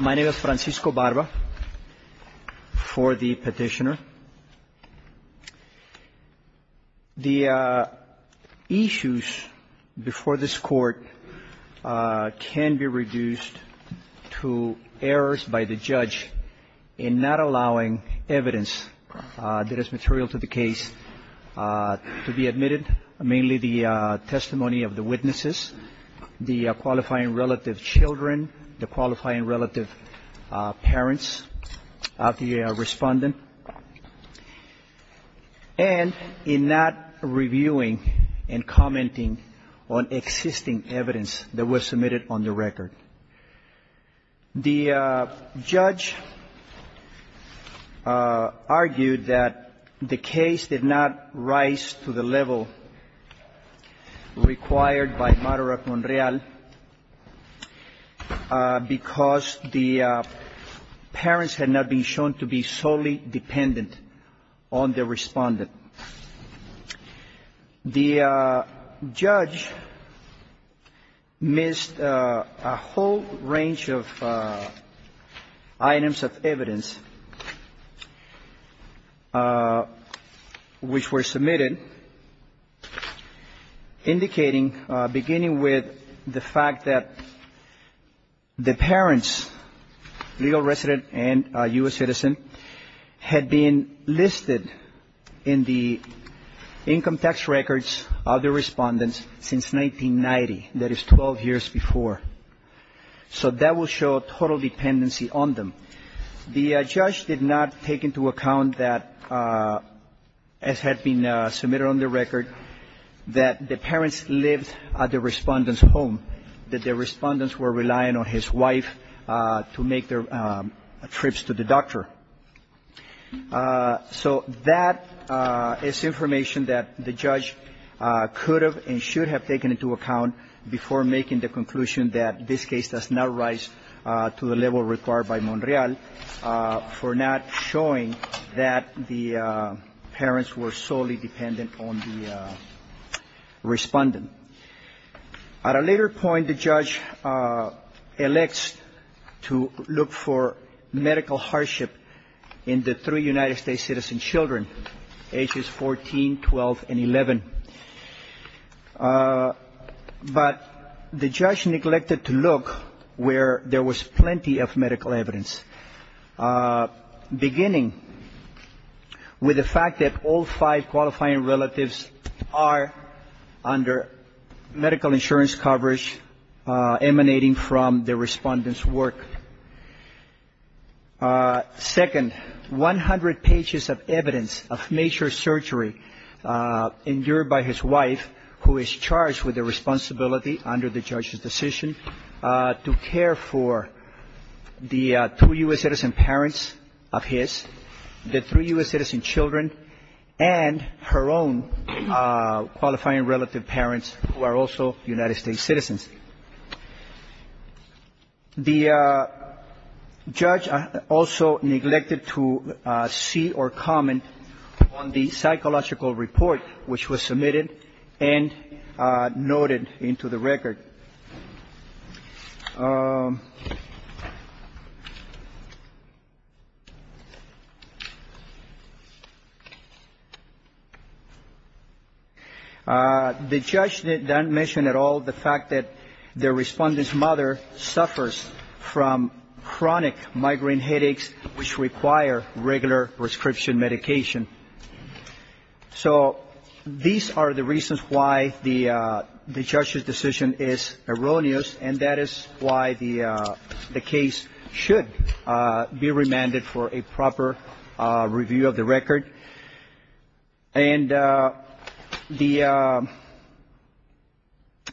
My name is Francisco Barba for the petitioner. The issues before this court can be reduced to errors by the judge in not allowing evidence that is material to the case to be admitted, mainly the testimony of the witnesses, the qualifying relative children, the qualifying relative parents of the respondent, and in not reviewing and commenting on existing evidence that was submitted on the record. The judge argued that the case did not rise to the level required by Maduro-Monreal because the parents had not been shown to be solely dependent on the respondent. The judge missed a whole range of items of evidence which were submitted indicating, beginning with the fact that the parents, legal resident and U.S. citizen, had been listed in the income tax records of the respondents since 1990, that is 12 years before. So that will show total dependency on them. The judge did not take into account that, as had been submitted on the record, that the parents lived at the respondent's home, that the respondents were relying on his wife to make their trips to the doctor. So that is information that the judge could have and should have taken into account before making the conclusion that this case does not rise to the level required by Monreal for not showing that the parents were solely dependent on the respondent. At a later point, the judge elects to look for medical hardship in the three United States citizen children, ages 14, 12 and 11. But the judge neglected to look where there was plenty of medical evidence, beginning with the fact that all five qualifying relatives are under medical insurance coverage emanating from the respondent's work. Second, 100 pages of evidence of major surgery endured by his wife, who is charged with the responsibility under the judge's decision to care for the two U.S. citizen parents of his, the three U.S. citizen children, and her own qualifying relative parents who are also United States citizens. The judge also neglected to see or comment on the psychological report which was submitted and noted into the record. The judge did not mention at all the fact that the respondent's mother suffers from chronic migraine headaches which require regular prescription medication. So these are the reasons why the judge's decision is erroneous, and that is why the case should be remanded for a proper review of the record. And the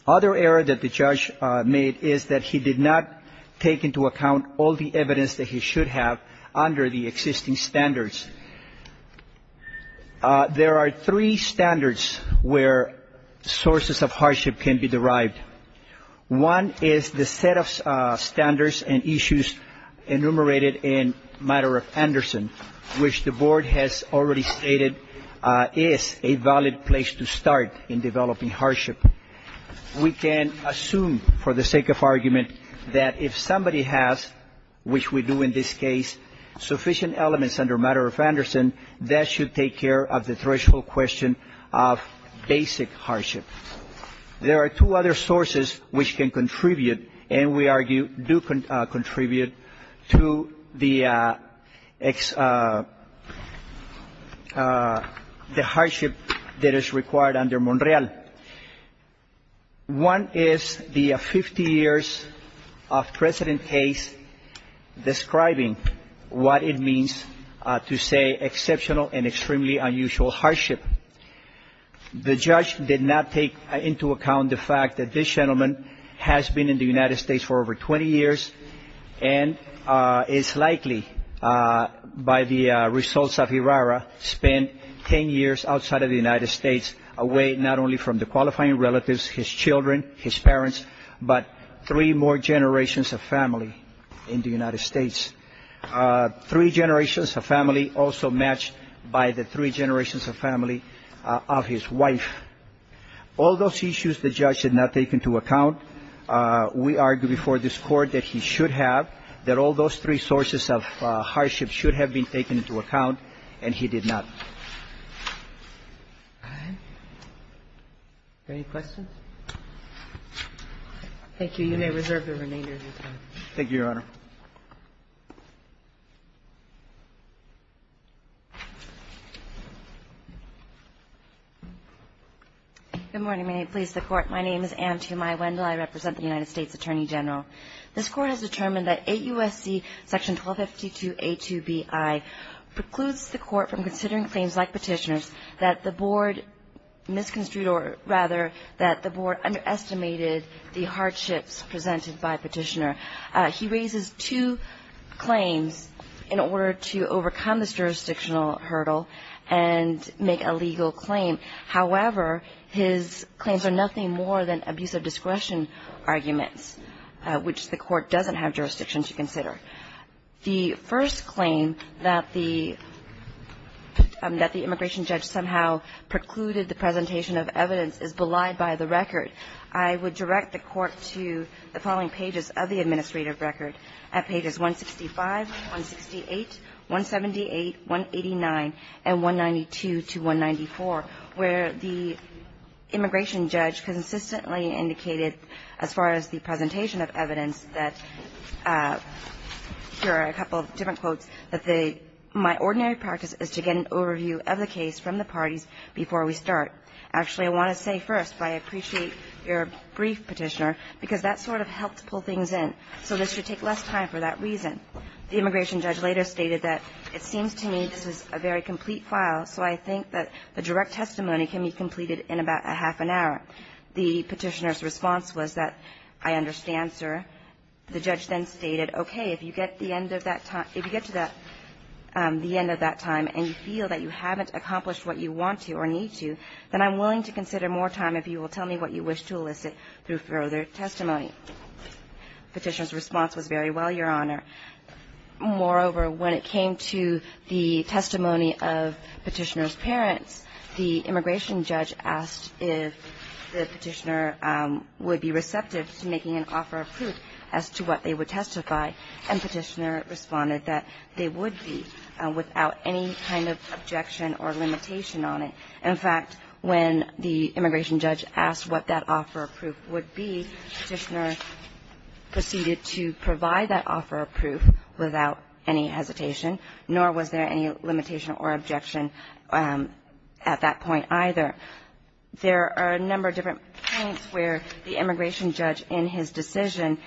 other error that the judge made is that he did not take into account all the evidence that he should have under the existing standards. There are three standards where sources of hardship can be derived. One is the set of standards and issues enumerated in Matter of Anderson, which the board has already stated is a valid place to start in developing hardship. We can assume for the sake of argument that if somebody has, which we do in this case, sufficient elements under Matter of Anderson, that should take care of the threshold question of basic hardship. There are two other sources which can contribute and we argue do contribute to the hardship that is required under Monreal. One is the 50 years of precedent case describing what it means to say exceptional and extremely unusual hardship. The judge did not take into account the fact that this gentleman has been in the United States for over 20 years and is likely, by the results of IRARA, spent 10 years outside of the United States, away not only from the qualifying relatives, his children, his parents, but three more generations of family in the United States. Three generations of family also matched by the three generations of family of his wife. All those issues the judge did not take into account. We argue before this Court that he should have, that all those three sources of hardship should have been taken into account, and he did not. Any questions? Thank you. You may reserve the remainder of your time. Thank you, Your Honor. Good morning. May it please the Court. My name is Anne T. Amaya Wendell. I represent the United States Attorney General. This Court has determined that 8 U.S.C. section 1252A2Bi precludes the Court from considering claims like Petitioner's that the Board misconstrued or, rather, that the Board underestimated the hardships presented by Petitioner. He raises two claims in order to overcome this jurisdictional hurdle and make a legal claim. However, his claims are nothing more than abusive discretion arguments, which the Court doesn't have jurisdiction to consider. The first claim that the immigration judge somehow precluded the presentation of evidence is belied by the record. I would direct the Court to the following pages of the administrative record at pages 165, 168, 178, 189, and 192 to 194, where the immigration judge consistently indicated, as far as the presentation of evidence, that there are a couple of different quotes, that my ordinary practice is to get an overview of the case from the parties before we start. Actually, I want to say first, but I appreciate your brief, Petitioner, because that sort of helped pull things in. So this should take less time for that reason. The immigration judge later stated that it seems to me this is a very complete file, so I think that the direct testimony can be completed in about a half an hour. The Petitioner's response was that, I understand, sir. The judge then stated, okay, if you get the end of that time – if you get to that – the end of that time and you feel that you haven't accomplished what you want to or need to, then I'm willing to consider more time if you will tell me what you wish to elicit through further testimony. The Petitioner's response was, very well, Your Honor. Moreover, when it came to the testimony of Petitioner's parents, the immigration judge asked if the Petitioner would be receptive to making an offer of proof as to what they would testify, and Petitioner responded that they would be without any kind of objection or limitation on it. In fact, when the immigration judge asked what that offer of proof would be, Petitioner proceeded to provide that offer of proof without any hesitation, nor was there any limitation or objection at that point either. There are a number of different points where the immigration judge, in his decision,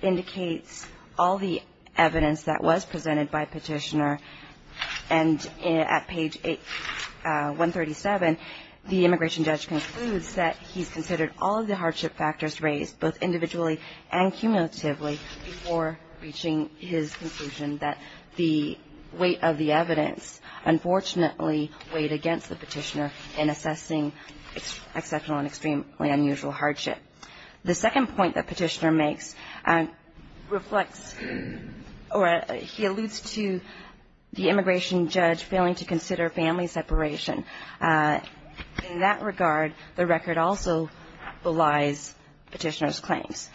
indicates all the evidence that was presented by Petitioner, and at page 137, the immigration judge concludes that he's considered all of the hardship factors raised, both individually and cumulatively, before reaching his conclusion that the weight of the evidence, unfortunately, weighed against the Petitioner in assessing exceptional and extremely unusual hardship. The second point that Petitioner makes reflects or he alludes to the immigration judge failing to consider family separation. In that regard, the record also belies Petitioner's claims.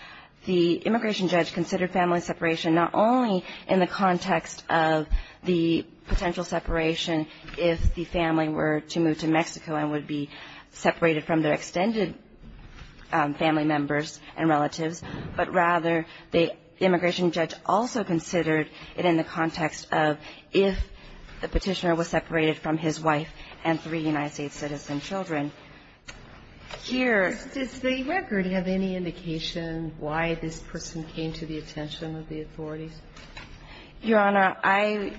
The immigration judge considered family separation not only in the context of the potential separation if the family were to move to Mexico and would be separated from their extended family members and relatives, but rather the immigration judge also considered it in the context of if the Petitioner was separated from his wife and three United States citizen children. Here. Does the record have any indication why this person came to the attention of the authorities? Your Honor, I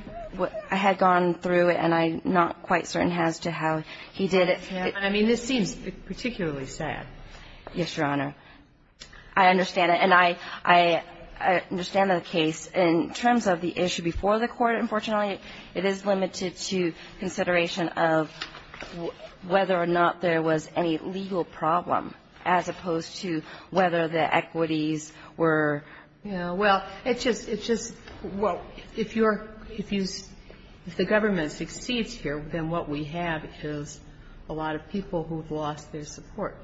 had gone through it, and I'm not quite certain as to how he did it. I mean, this seems particularly sad. Yes, Your Honor. I understand it. And I understand the case. In terms of the issue before the Court, unfortunately, it is limited to consideration of whether or not there was any legal problem as opposed to whether the equities were, you know, well, it's just, it's just, well, if you're, if you, if the government succeeds here, then what we have is a lot of people who have lost their support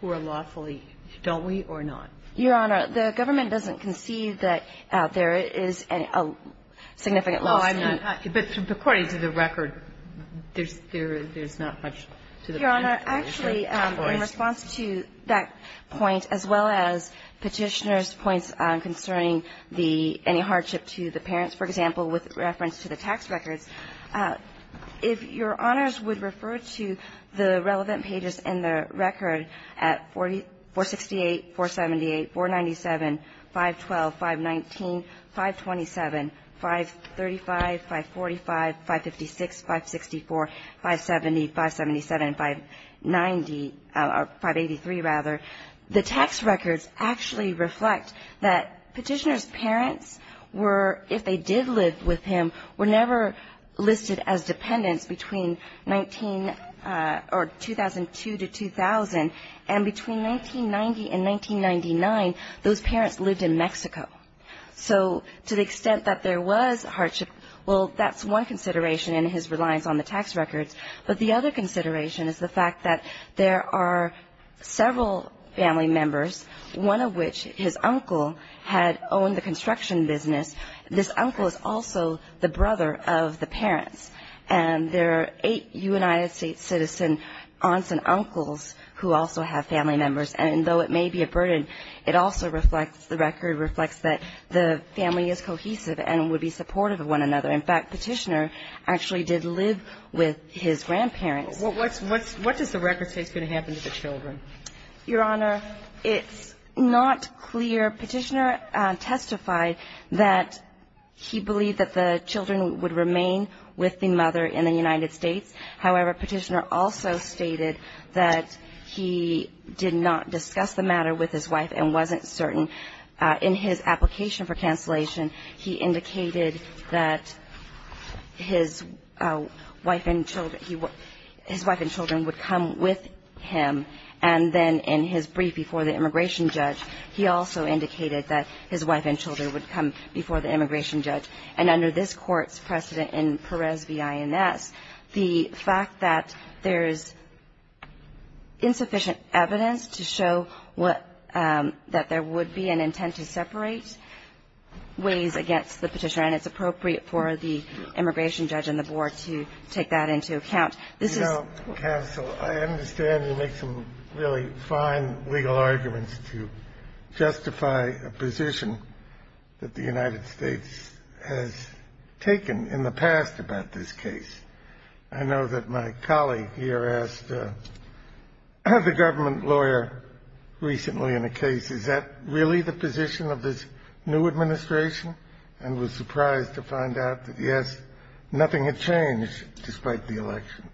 who are lawfully, don't we, or not? Your Honor, the government doesn't concede that there is a significant loss. No, I'm not. But according to the record, there's not much to the point. Your Honor, actually, in response to that point, as well as Petitioner's points concerning the, any hardship to the parents, for example, with reference to the tax records, if Your Honors would refer to the relevant pages in the record at 468, 478, 497, 512, 519, 527, 535, 545, 556, 564, 570, 577, 590, or 583, rather, the tax records actually reflect that Petitioner's parents were, if they did live with him, were never listed as dependents between 19, or 2002 to 2000. And between 1990 and 1999, those parents lived in Mexico. So to the extent that there was hardship, well, that's one consideration in his reliance on the tax records. But the other consideration is the fact that there are several family members, one of which, his uncle, had owned the construction business. This uncle is also the brother of the parents. And there are eight United States citizen aunts and uncles who also have family members. And though it may be a burden, it also reflects, the record reflects that the family is cohesive and would be supportive of one another. In fact, Petitioner actually did live with his grandparents. What does the record say is going to happen to the children? Your Honor, it's not clear. Petitioner testified that he believed that the children would remain with the mother in the United States. However, Petitioner also stated that he did not discuss the matter with his wife and wasn't certain. In his application for cancellation, he indicated that his wife and children would come with him. And then in his brief before the immigration judge, he also indicated that his wife and children would come before the immigration judge. And under this Court's precedent in Perez v. INS, the fact that there is insufficient evidence to show what that there would be an intent to separate ways against the Petitioner, and it's appropriate for the immigration judge and the board to take that into account. This isó Scalia You know, counsel, I understand you make some really fine legal arguments to justify a position that the United States has taken in the past about this case. I know that my colleague here asked the government lawyer recently in a case, is that really the position of this new administration? And was surprised to find out that, yes, nothing had changed despite the election.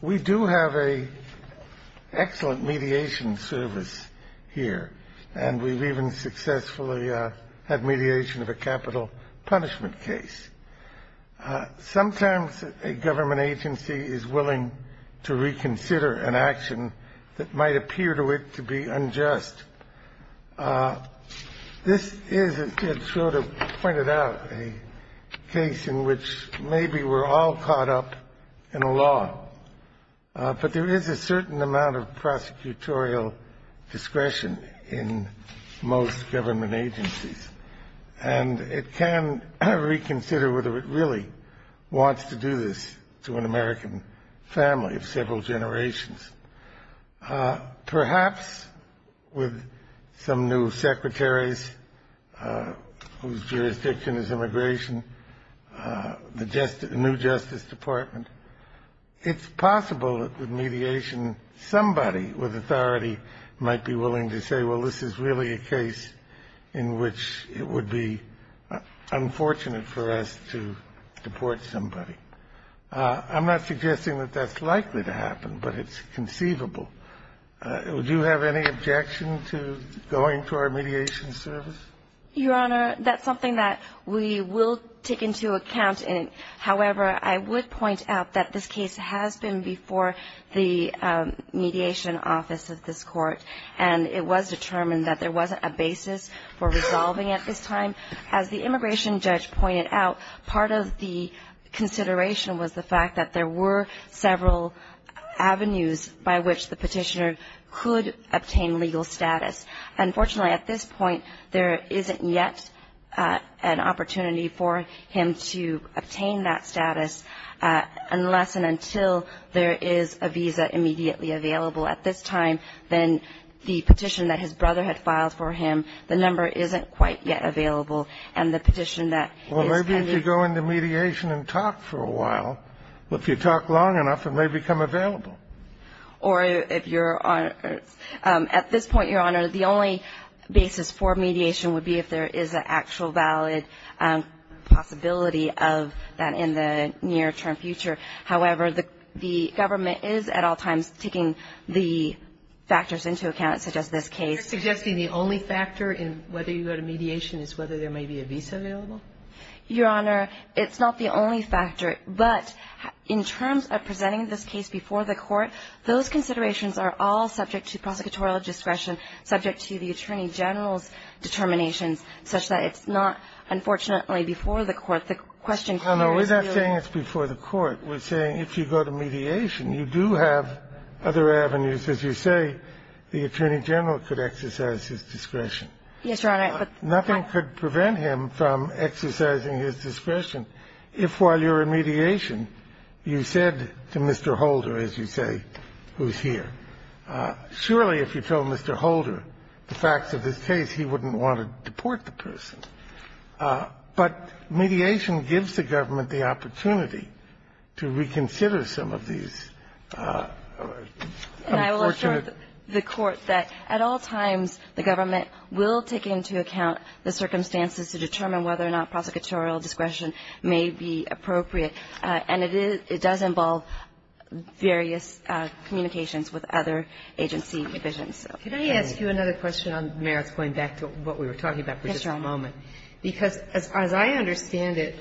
We do have an excellent mediation service here, and we've even successfully had mediation of a capital punishment case. Sometimes a government agency is willing to reconsider an action that might appear to it to be unjust. This is, as Ted Schroeder pointed out, a case in which maybe we're all caught up in a law, but there is a certain amount of prosecutorial discretion in most government agencies, and it can reconsider whether it really wants to do this to an American family of several generations. Perhaps with some new secretaries whose jurisdiction is immigration, the new Justice Department, it's possible that with mediation somebody with authority might be willing to say, well, this is really a case in which it would be unfortunate for us to deport somebody. I'm not suggesting that that's likely to happen, but it's conceivable. Do you have any objection to going to our mediation service? Your Honor, that's something that we will take into account. However, I would point out that this case has been before the mediation office of this court, and it was determined that there wasn't a basis for resolving at this time. As the immigration judge pointed out, part of the consideration was the fact that there were several avenues by which the petitioner could obtain legal status. Unfortunately, at this point, there isn't yet an opportunity for him to obtain that status unless and until there is a visa immediately available at this time. Then the petition that his brother had filed for him, the number isn't quite yet available, and the petition that is pending. Well, maybe if you go into mediation and talk for a while. If you talk long enough, it may become available. Or if you're on at this point, Your Honor, the only basis for mediation would be if there is an actual valid possibility of that in the near-term future. However, the government is at all times taking the factors into account, such as this case. You're suggesting the only factor in whether you go to mediation is whether there may be a visa available? Your Honor, it's not the only factor. But in terms of presenting this case before the court, those considerations are all subject to prosecutorial discretion, subject to the Attorney General's determinations, such that it's not, unfortunately, before the court. If the question here is really — No, no. We're not saying it's before the court. We're saying if you go to mediation, you do have other avenues. As you say, the Attorney General could exercise his discretion. Yes, Your Honor, but — Nothing could prevent him from exercising his discretion if, while you're in mediation, you said to Mr. Holder, as you say, who's here. Surely, if you told Mr. Holder the facts of this case, he wouldn't want to deport the person. But mediation gives the government the opportunity to reconsider some of these unfortunate — And I will assure the Court that at all times the government will take into account the circumstances to determine whether or not prosecutorial discretion may be appropriate, and it does involve various communications with other agency divisions. Could I ask you another question on merits, going back to what we were talking about for just a moment? Yes, Your Honor. Because as I understand it,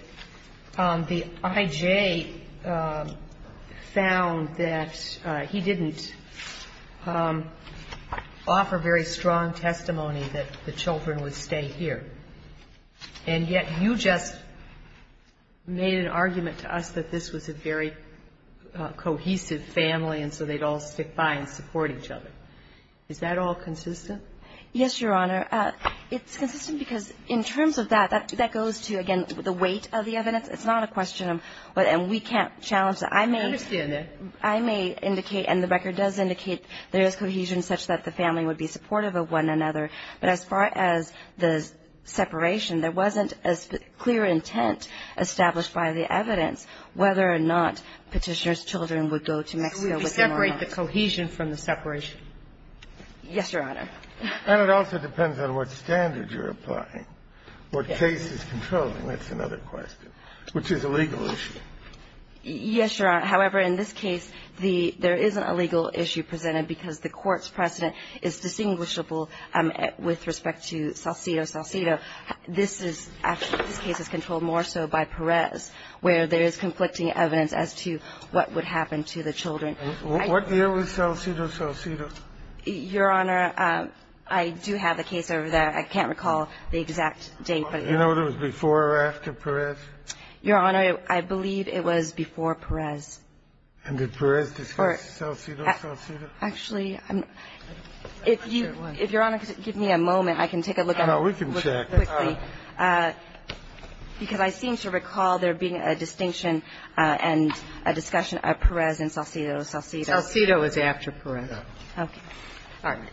the I.J. found that he didn't offer very strong testimony that the children would stay here. And yet you just made an argument to us that this was a very cohesive family, and so they'd all stick by and support each other. Is that all consistent? Yes, Your Honor. It's consistent because in terms of that, that goes to, again, the weight of the evidence. It's not a question of — and we can't challenge that. I understand that. I may indicate, and the record does indicate there is cohesion such that the family would be supportive of one another. But as far as the separation, there wasn't a clear intent established by the evidence whether or not Petitioner's children would go to Mexico with him or not. Could you separate the cohesion from the separation? Yes, Your Honor. And it also depends on what standard you're applying, what case is controlling. That's another question. Which is a legal issue. Yes, Your Honor. However, in this case, the — there is a legal issue presented because the Court's precedent is distinguishable with respect to Salcido-Salcido. This is — actually, this case is controlled more so by Perez, where there is conflicting evidence as to what would happen to the children. What year was Salcido-Salcido? Your Honor, I do have the case over there. I can't recall the exact date. Do you know if it was before or after Perez? Your Honor, I believe it was before Perez. And did Perez discuss Salcido-Salcido? Actually, I'm not — if Your Honor could give me a moment, I can take a look at it. No, we can check. Quickly. Because I seem to recall there being a distinction and a discussion of Perez and Salcido-Salcido. Salcido is after Perez. Okay.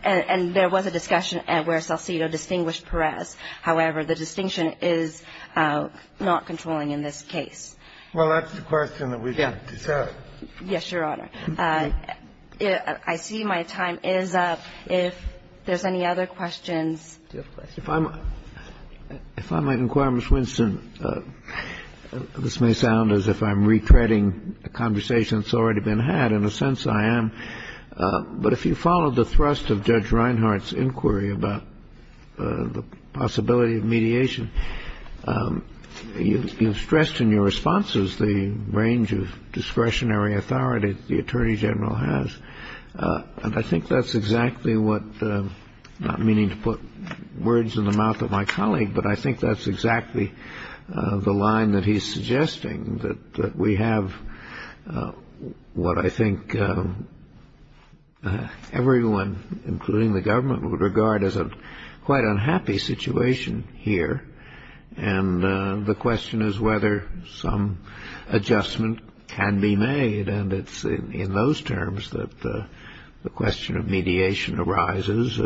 And there was a discussion where Salcido distinguished Perez. However, the distinction is not controlling in this case. Well, that's the question that we can discuss. Yes, Your Honor. I see my time is up. If there's any other questions. Do you have a question? If I might inquire, Ms. Winston, this may sound as if I'm retreading a conversation that's already been had. In a sense, I am. But if you follow the thrust of Judge Reinhart's inquiry about the possibility of mediation, you've stressed in your responses the range of discretionary authority the Attorney General has. And I think that's exactly what — not meaning to put words in the mouth of my colleague, but I think that's exactly the line that he's suggesting, that we have what I think everyone, including the government, would regard as a quite unhappy situation here. And the question is whether some adjustment can be made. And it's in those terms that the question of mediation arises,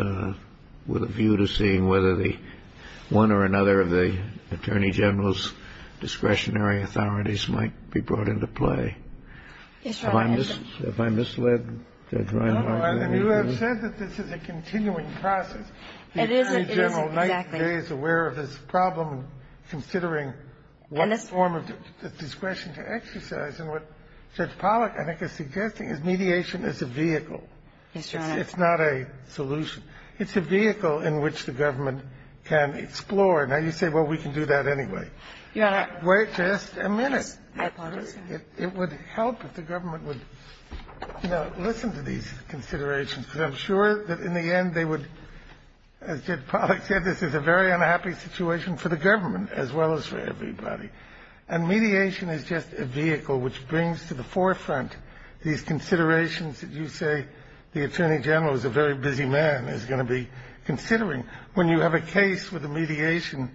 with a view to seeing whether one or another of the Attorney General's discretionary authorities might be brought into play. Yes, Your Honor. Have I misled Judge Reinhart? No, Your Honor. You have said that this is a continuing process. It isn't. The Attorney General, night and day, is aware of this problem, considering one form of discretion to exercise. And what Judge Pollack, I think, is suggesting is mediation is a vehicle. Yes, Your Honor. It's not a solution. It's a vehicle in which the government can explore. Now, you say, well, we can do that anyway. Your Honor. Wait just a minute. Yes, I apologize, Your Honor. It would help if the government would, you know, listen to these considerations, because I'm sure that in the end they would, as Judge Pollack said, this is a very And mediation is just a vehicle which brings to the forefront these considerations that you say the Attorney General is a very busy man, is going to be considering. When you have a case with a mediation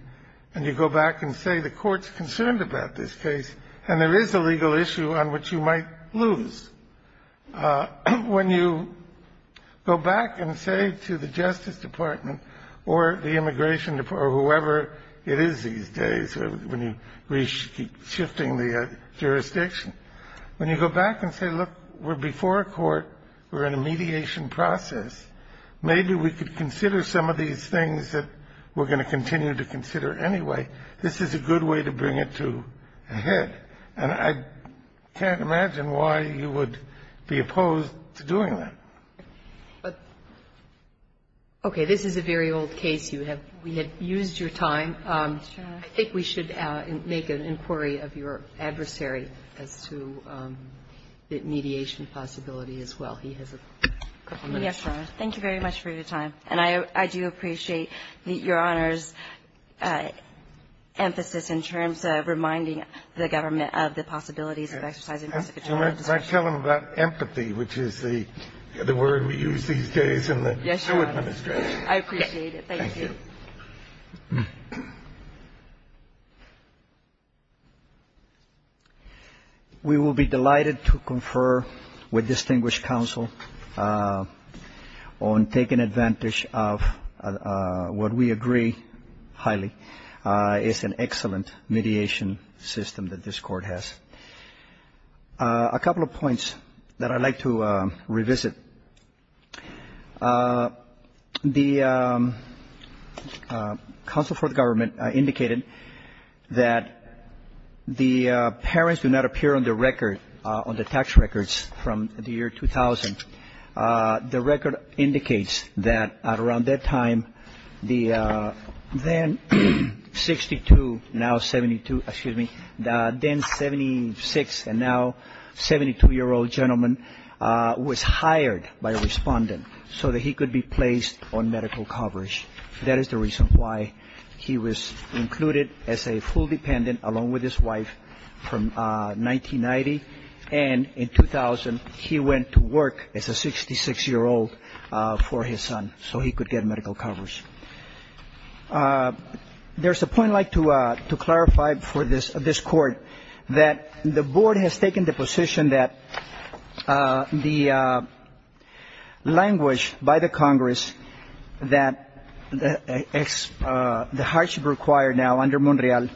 and you go back and say the court's concerned about this case and there is a legal issue on which you might lose, when you go back and say to the Justice Department or the Immigration Department or whoever it is these days, when you keep shifting the jurisdiction, when you go back and say, look, we're before a court. We're in a mediation process. Maybe we could consider some of these things that we're going to continue to consider anyway. This is a good way to bring it to a head, and I can't imagine why you would be opposed to doing that. Okay. This is a very old case. We have used your time. I think we should make an inquiry of your adversary as to the mediation possibility as well. He has a couple minutes. Yes, Your Honor. Thank you very much for your time. And I do appreciate Your Honor's emphasis in terms of reminding the government of the possibilities of exercising prosecutorial discretion. And I tell them about empathy, which is the word we use these days in the show administration. Yes, Your Honor. I appreciate it. Thank you. Thank you. We will be delighted to confer with distinguished counsel on taking advantage of what we agree highly is an excellent mediation system that this Court has. A couple of points that I'd like to revisit. The counsel for the government indicated that the parents do not appear on the record, on the tax records from the year 2000. The record indicates that at around that time, the then 62, now 72, excuse me, the then 76 and now 72-year-old gentleman was hired by a respondent so that he could be placed on medical coverage. That is the reason why he was included as a full dependent along with his wife from 1990. And in 2000, he went to work as a 66-year-old for his son so he could get medical coverage. There's a point I'd like to clarify for this Court, that the Board has taken the position that the language by the Congress that the hardship required now under Monreal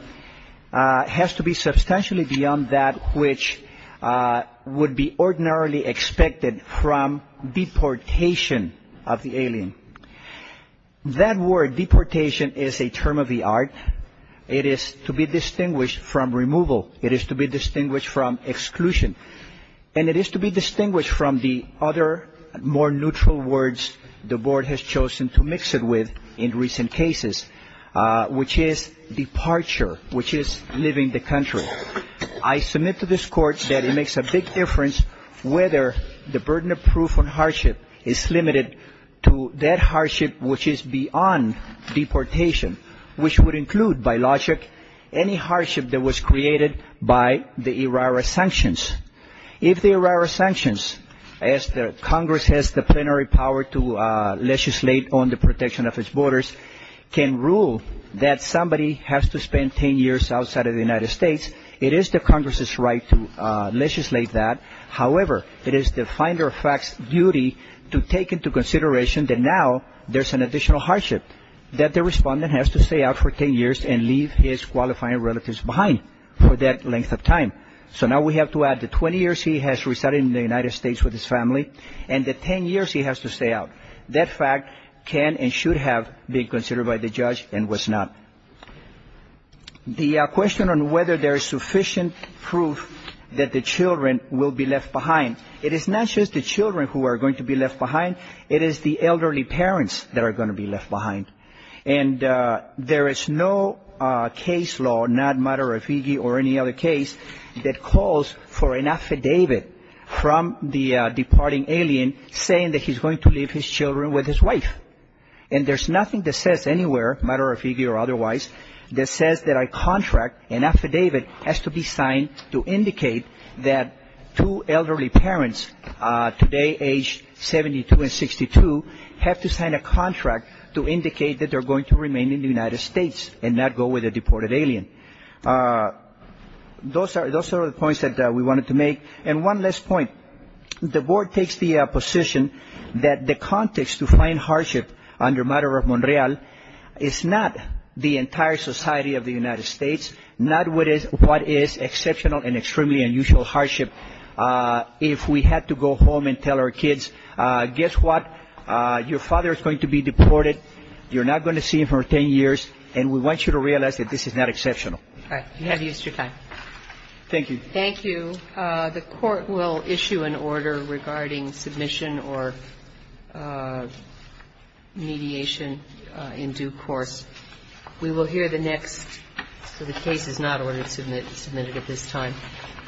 has to be substantially beyond that which would be ordinarily expected from deportation of the alien. That word deportation is a term of the art, it is to be distinguished from removal, it is to be distinguished from exclusion, and it is to be distinguished from the other more neutral words the Board has chosen to mix it with in recent cases, which is departure, which is leaving the country. I submit to this Court that it makes a big difference whether the burden of proof on hardship is limited to that which would include, by logic, any hardship that was created by the ERARA sanctions. If the ERARA sanctions, as Congress has the plenary power to legislate on the protection of its borders, can rule that somebody has to spend 10 years outside of the United States, it is the Congress's right to legislate that. However, it is the Finder of Facts' duty to take into consideration that now there's an additional hardship that the respondent has to stay out for 10 years and leave his qualifying relatives behind for that length of time. So now we have to add the 20 years he has resided in the United States with his family and the 10 years he has to stay out. That fact can and should have been considered by the judge and was not. The question on whether there is sufficient proof that the children will be left behind, it is not just the children who are going to be left behind. And there is no case law, not Madarafigui or any other case, that calls for an affidavit from the departing alien saying that he's going to leave his children with his wife. And there's nothing that says anywhere, Madarafigui or otherwise, that says that a contract, an affidavit, has to be signed to indicate that two elderly parents, today aged 72 and 62, have to sign a contract to indicate that they're going to remain in the United States and not go with a deported alien. Those are the points that we wanted to make. And one last point. The board takes the position that the context to find hardship under Madara Monreal is not the entire society of the United States, not what is exceptional and extremely unusual hardship. If we had to go home and tell our kids, guess what? Your father is going to be deported. You're not going to see him for 10 years. And we want you to realize that this is not exceptional. Thank you. Thank you. The Court will issue an order regarding submission or mediation in due course. We will hear the next. So the case is not ordered to be submitted at this time.